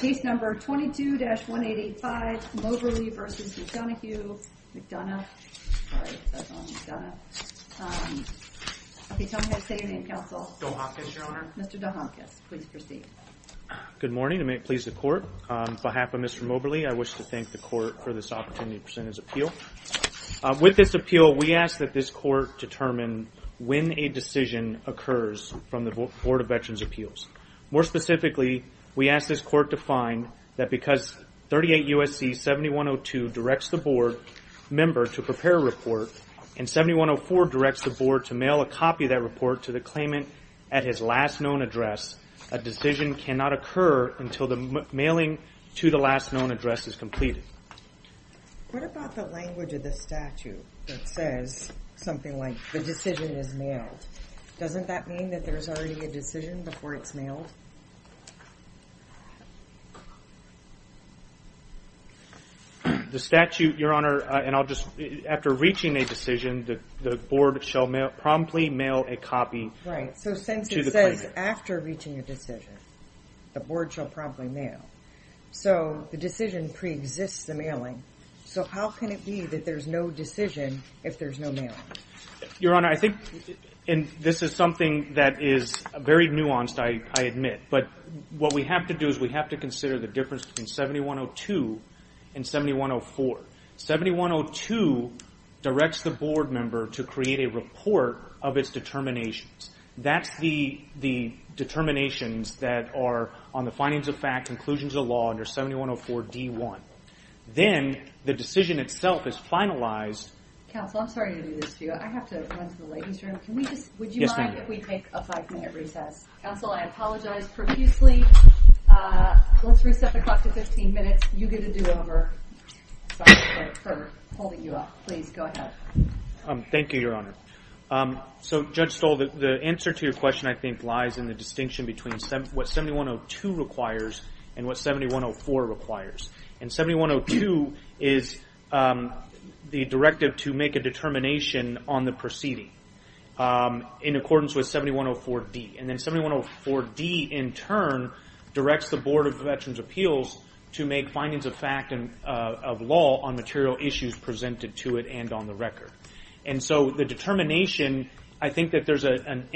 Good morning and may it please the court, on behalf of Mr. Moberly, I wish to thank the court for this opportunity to present his appeal. With this appeal, we ask that this court determine when a decision occurs from the Board of Veterans Appeals. More specifically, we ask this court to find that because 38 U.S.C. 7102 directs the board member to prepare a report and 7104 directs the board to mail a copy of that report to the claimant at his last known address, a decision cannot occur until the mailing to the last known address is completed. What about the language of the statute that says something like the decision is mailed? Doesn't that mean that there's already a decision before it's mailed? The statute, Your Honor, and I'll just, after reaching a decision, the board shall promptly mail a copy to the claimant. Right. So since it says after reaching a decision, the board shall promptly mail. So the decision pre-exists the mailing. So how can it be that there's no decision if there's no mailing? Your Honor, I think, and this is something that is very nuanced, I admit, but what we have to do is we have to consider the difference between 7102 and 7104. 7102 directs the board member to create a report of its determinations. That's the determinations that are on the findings of fact, conclusions of law under 7104 D.1. Then the decision itself is finalized. Counsel, I'm sorry to do this to you. I have to run to the ladies' room. Would you mind if we take a five-minute recess? Counsel, I apologize profusely. Let's reset the clock to 15 minutes. You get a do-over. Sorry for holding you up. Please, go ahead. Thank you, Your Honor. So, Judge Stoll, the answer to your question, I think, lies in the distinction between what 7102 requires and what 7104 requires. 7102 is the directive to make a determination on the proceeding in accordance with 7104 D. Then 7104 D, in turn, directs the Board of Veterans' Appeals to make findings of fact and of law on material issues presented to it and on the record. The determination, I think that there's an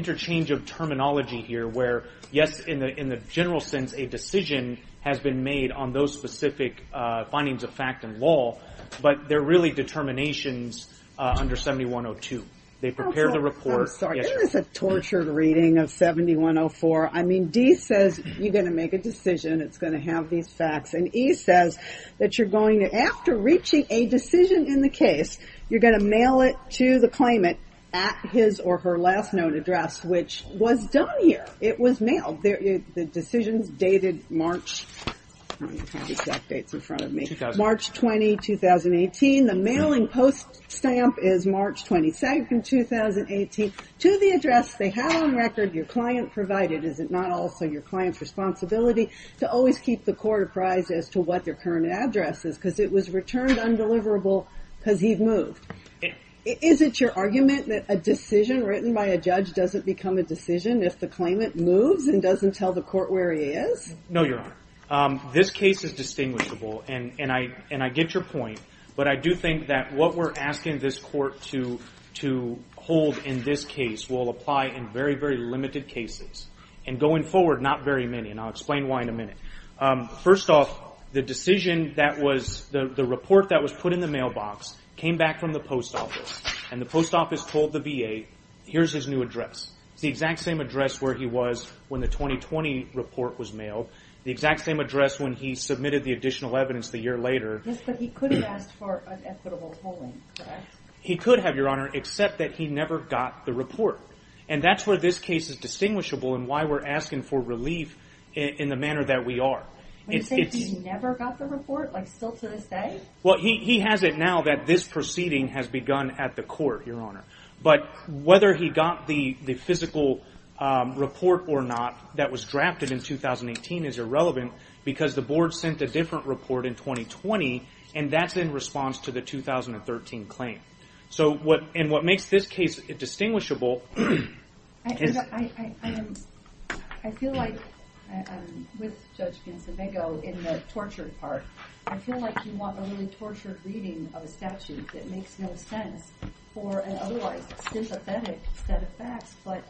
interchange of terminology here where, yes, in the general sense, a decision has been made on those specific findings of fact and law, but they're really determinations under 7102. They prepare the report. Counsel, I'm sorry. This is a tortured reading of 7104. I mean, D says you're going to make a decision. It's going to have these facts. And E says that you're going to, after reaching a decision in the case, you're going to mail it to the claimant at his or her last known address, which was done here. It was mailed. The decisions dated March 20, 2018. The mailing post stamp is March 22, 2018, to the address they have on record your client provided. Is it not also your client's responsibility to always keep the court apprised as to what their current address is because it was returned undeliverable because he'd moved? Is it your argument that a decision written by a judge doesn't become a decision if the claimant moves and doesn't tell the court where he is? No, Your Honor. This case is distinguishable, and I get your point, but I do think that what we're asking this court to hold in this case will apply in very, very limited cases. And going forward, not very many, and I'll explain why in a minute. First off, the decision that was, the report that was put in the mailbox came back from the post office, and the post office told the VA, here's his new address. It's the exact same address where he was when the 2020 report was mailed, the exact same address when he submitted the additional evidence the year later. Yes, but he could have asked for an equitable polling, correct? He could have, Your Honor, except that he never got the report. And that's where this case is distinguishable and why we're asking for relief in the manner that we are. When you say he never got the report, like still to this day? Well, he has it now that this proceeding has begun at the court, Your Honor. But whether he got the physical report or not that was drafted in 2018 is irrelevant because the board sent a different report in 2020, and that's in response to the 2013 claim. So what, and what makes this case distinguishable is... I feel like, with Judge Gonsalvego in the tortured part, I feel like you want a really generalized, sympathetic set of facts, but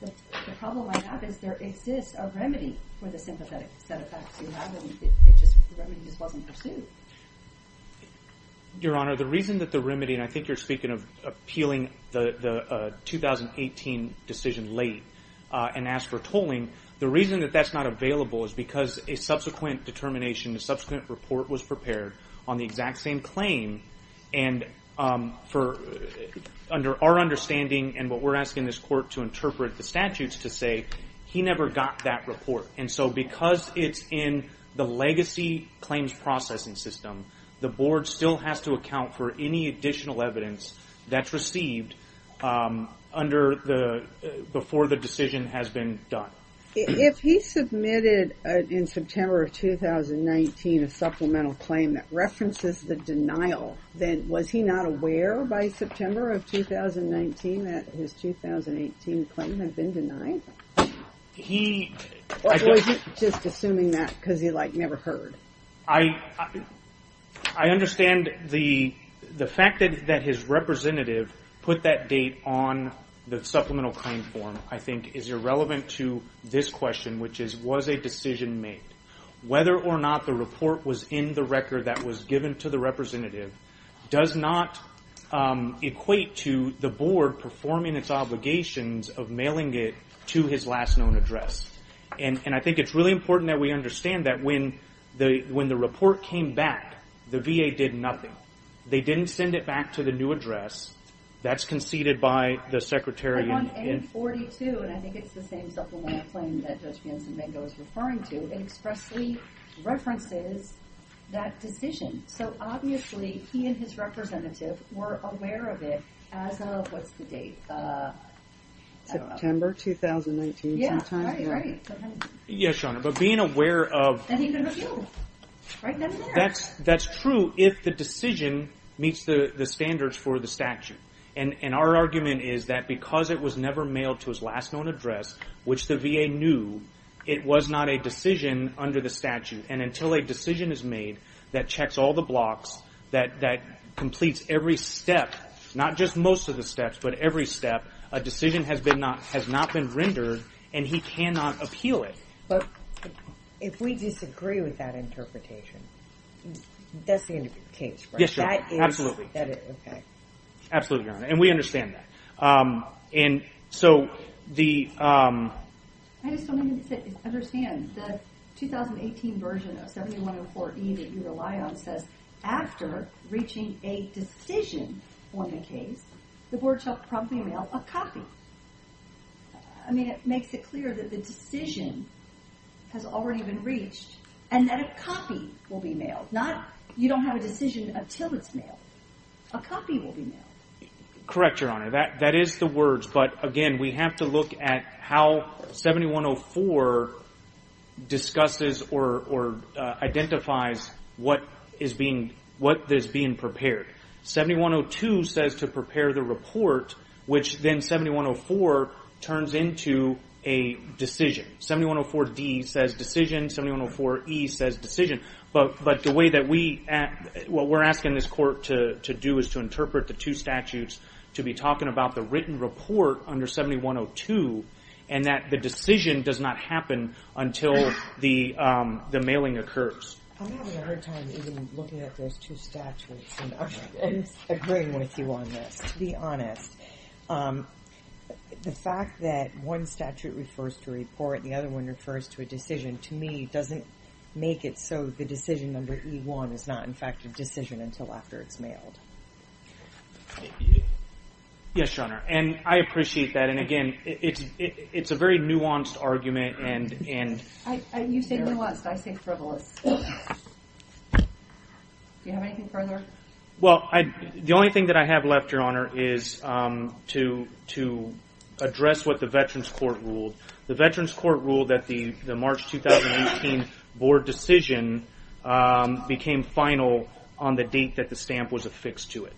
the problem I have is there exists a remedy for the sympathetic set of facts you have, and it just, the remedy just wasn't pursued. Your Honor, the reason that the remedy, and I think you're speaking of appealing the 2018 decision late and ask for tolling, the reason that that's not available is because a subsequent determination, a subsequent report was prepared on the exact same claim and for, under our understanding, and what we're asking this court to interpret the statutes to say, he never got that report. And so because it's in the legacy claims processing system, the board still has to account for any additional evidence that's received under the, before the decision has been done. If he submitted, in September of 2019, a supplemental claim that references the denial, then was he not aware by September of 2019 that his 2018 claim had been denied? He... Or was he just assuming that because he never heard? I understand the fact that his representative put that date on the supplemental claim form, I think, is irrelevant to this question, which is, was a decision made? Whether or not the report was in the record that was given to the representative does not equate to the board performing its obligations of mailing it to his last known address. And I think it's really important that we understand that when the report came back, the VA did nothing. They didn't send it back to the new address. That's conceded by the Secretary... In 1942, and I think it's the same supplemental claim that Judge Benson-Mango is referring to, it expressly references that decision. So obviously, he and his representative were aware of it as of, what's the date? September 2019, sometime? Yeah. Right, right. Yes, Your Honor. But being aware of... And he never knew. Right then and there. That's true if the decision meets the standards for the statute. And our argument is that because it was never mailed to his last known address, which the VA knew, it was not a decision under the statute. And until a decision is made that checks all the blocks, that completes every step, not just most of the steps, but every step, a decision has not been rendered, and he cannot appeal it. But if we disagree with that interpretation, that's the end of the case, right? Yes, Your Honor. Absolutely. That is, okay. Absolutely, Your Honor. And we understand that. And so the... I just don't understand. The 2018 version of 7104E that you rely on says, after reaching a decision on the case, the board shall promptly mail a copy. I mean, it makes it clear that the decision has already been reached, and that a copy will be mailed. You don't have a decision until it's mailed. A copy will be mailed. Correct, Your Honor. That is the words. But again, we have to look at how 7104 discusses or identifies what is being prepared. 7102 says to prepare the report, which then 7104 turns into a decision. 7104D says decision. 7104E says decision. But the way that we... What we're asking this court to do is to interpret the two statutes to be talking about the written report under 7102, and that the decision does not happen until the mailing occurs. I'm having a hard time even looking at those two statutes and agreeing with you on this, to be honest. The fact that one statute refers to a report and the other one refers to a decision, to me, doesn't make it so the decision under E1 is not, in fact, a decision until after it's mailed. Yes, Your Honor. And I appreciate that. And again, it's a very nuanced argument and... You say nuanced. I say frivolous. Do you have anything further? Well, the only thing that I have left, Your Honor, is to address what the Veterans Court ruled. The Veterans Court ruled that the March 2018 board decision became final on the date that the stamp was affixed to it.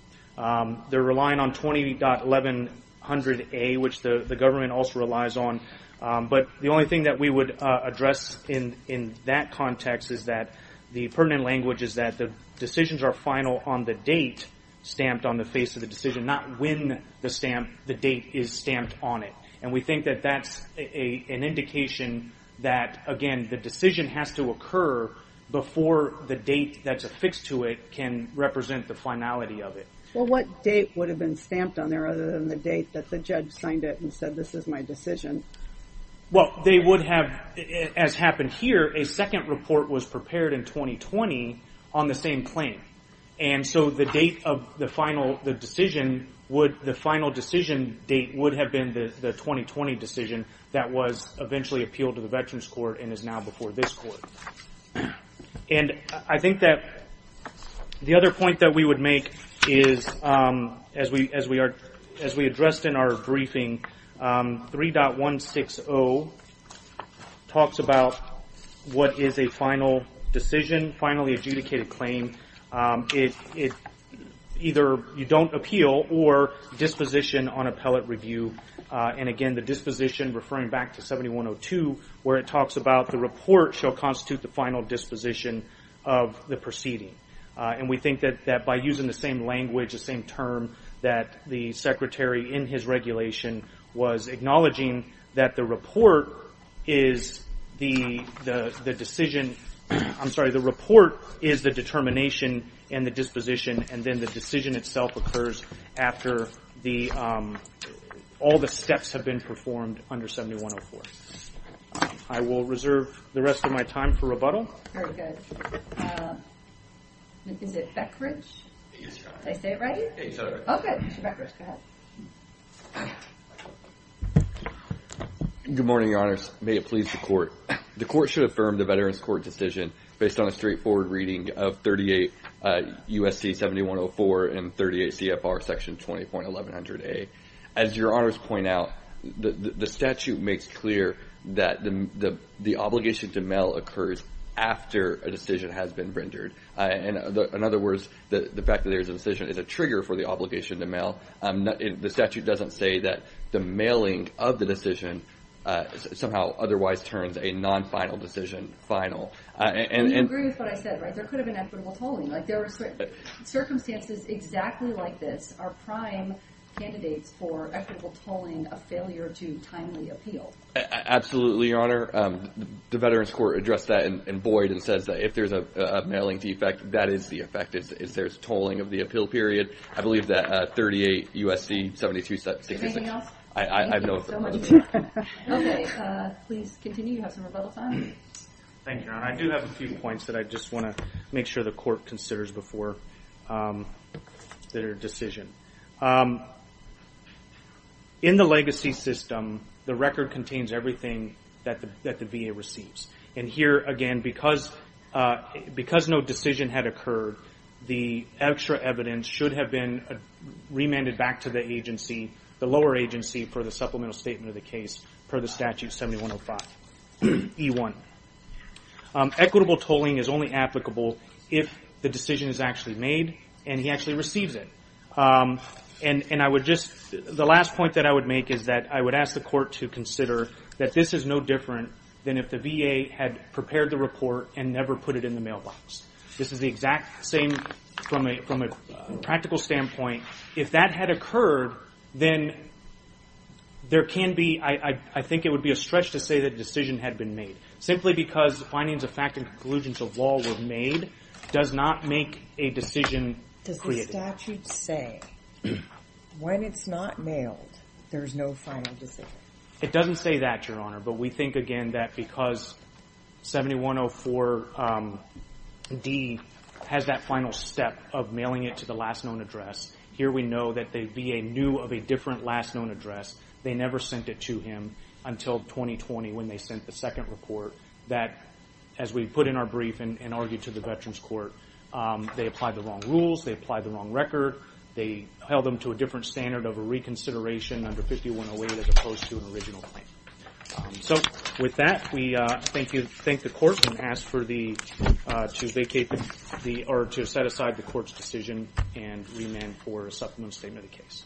They're relying on 20.1100A, which the government also relies on. But the only thing that we would address in that context is that the pertinent language is that the decisions are final on the date stamped on the face of the decision, not when the date is stamped on it. And we think that that's an indication that, again, the decision has to occur before the date that's affixed to it can represent the finality of it. Well, what date would have been stamped on there other than the date that the judge signed it and said, this is my decision? Well, they would have, as happened here, a second report was prepared in 2020 on the same claim. And so the final decision date would have been the 2020 decision that was eventually appealed to the Veterans Court and is now before this court. And I think that the other point that we would make is, as we addressed in our briefing, 3.160 talks about what is a final decision, finally adjudicated claim. It's either you don't appeal or disposition on appellate review. And again, the disposition, referring back to 7102, where it talks about the report shall constitute the final disposition of the proceeding. And we think that by using the same language, the same term, that the Secretary in his regulation was acknowledging that the report is the determination and the disposition, and then the decision itself occurs after all the steps have been performed under 7104. I will reserve the rest of my time for rebuttal. Very good. Is it Beckridge? Yes, Your Honor. Did I say it right? Yes, Your Honor. Oh, good. Mr. Beckridge, go ahead. Good morning, Your Honors. May it please the Court. The Court should affirm the Veterans Court decision based on a straightforward reading of 38 U.S.C. 7104 and 38 C.F.R. section 20.1100A. As Your Honors point out, the statute makes clear that the obligation to mail occurs after a decision has been rendered. In other words, the fact that there is a decision is a trigger for the obligation to mail. The statute doesn't say that the mailing of the decision somehow otherwise turns a non-final decision final. You agree with what I said, right? There could have been equitable tolling. There are circumstances exactly like this are prime candidates for equitable tolling of failure to timely appeal. Absolutely, Your Honor. The Veterans Court addressed that in Boyd and says that if there's a mailing defect, that is the effect. If there's tolling of the appeal period, I believe that 38 U.S.C. 7266. Anything else? I have no further questions. Okay. Please continue. You have some rebuttal time. Thank you, Your Honor. I do have a few points that I just want to make sure the court considers before their decision. In the legacy system, the record contains everything that the VA receives. Here, again, because no decision had occurred, the extra evidence should have been remanded back to the agency, the lower agency, for the supplemental statement of the case per the statute 7105E1. Equitable tolling is only applicable if the decision is actually made and he actually receives it. The last point that I would make is that I would ask the court to consider that this is no different than if the VA had prepared the report and never put it in the mailbox. This is the exact same from a practical standpoint. If that had occurred, then there can be, I think it would be a stretch to say that a decision had been made, simply because findings of fact and conclusions of law were made does not make a decision. Does the statute say when it's not mailed, there's no final decision? It doesn't say that, Your Honor, but we think again that because 7104D has that final step of mailing it to the last known address, here we know that the VA knew of a different last known address. They never sent it to him until 2020 when they sent the second report that, as we put in our brief and argued to the Veterans Court, they applied the wrong rules. They applied the wrong record. They held them to a different standard of a reconsideration under 5108 as opposed to an original claim. So with that, we thank the court and ask to set aside the court's decision and remand for a supplemental statement of the case.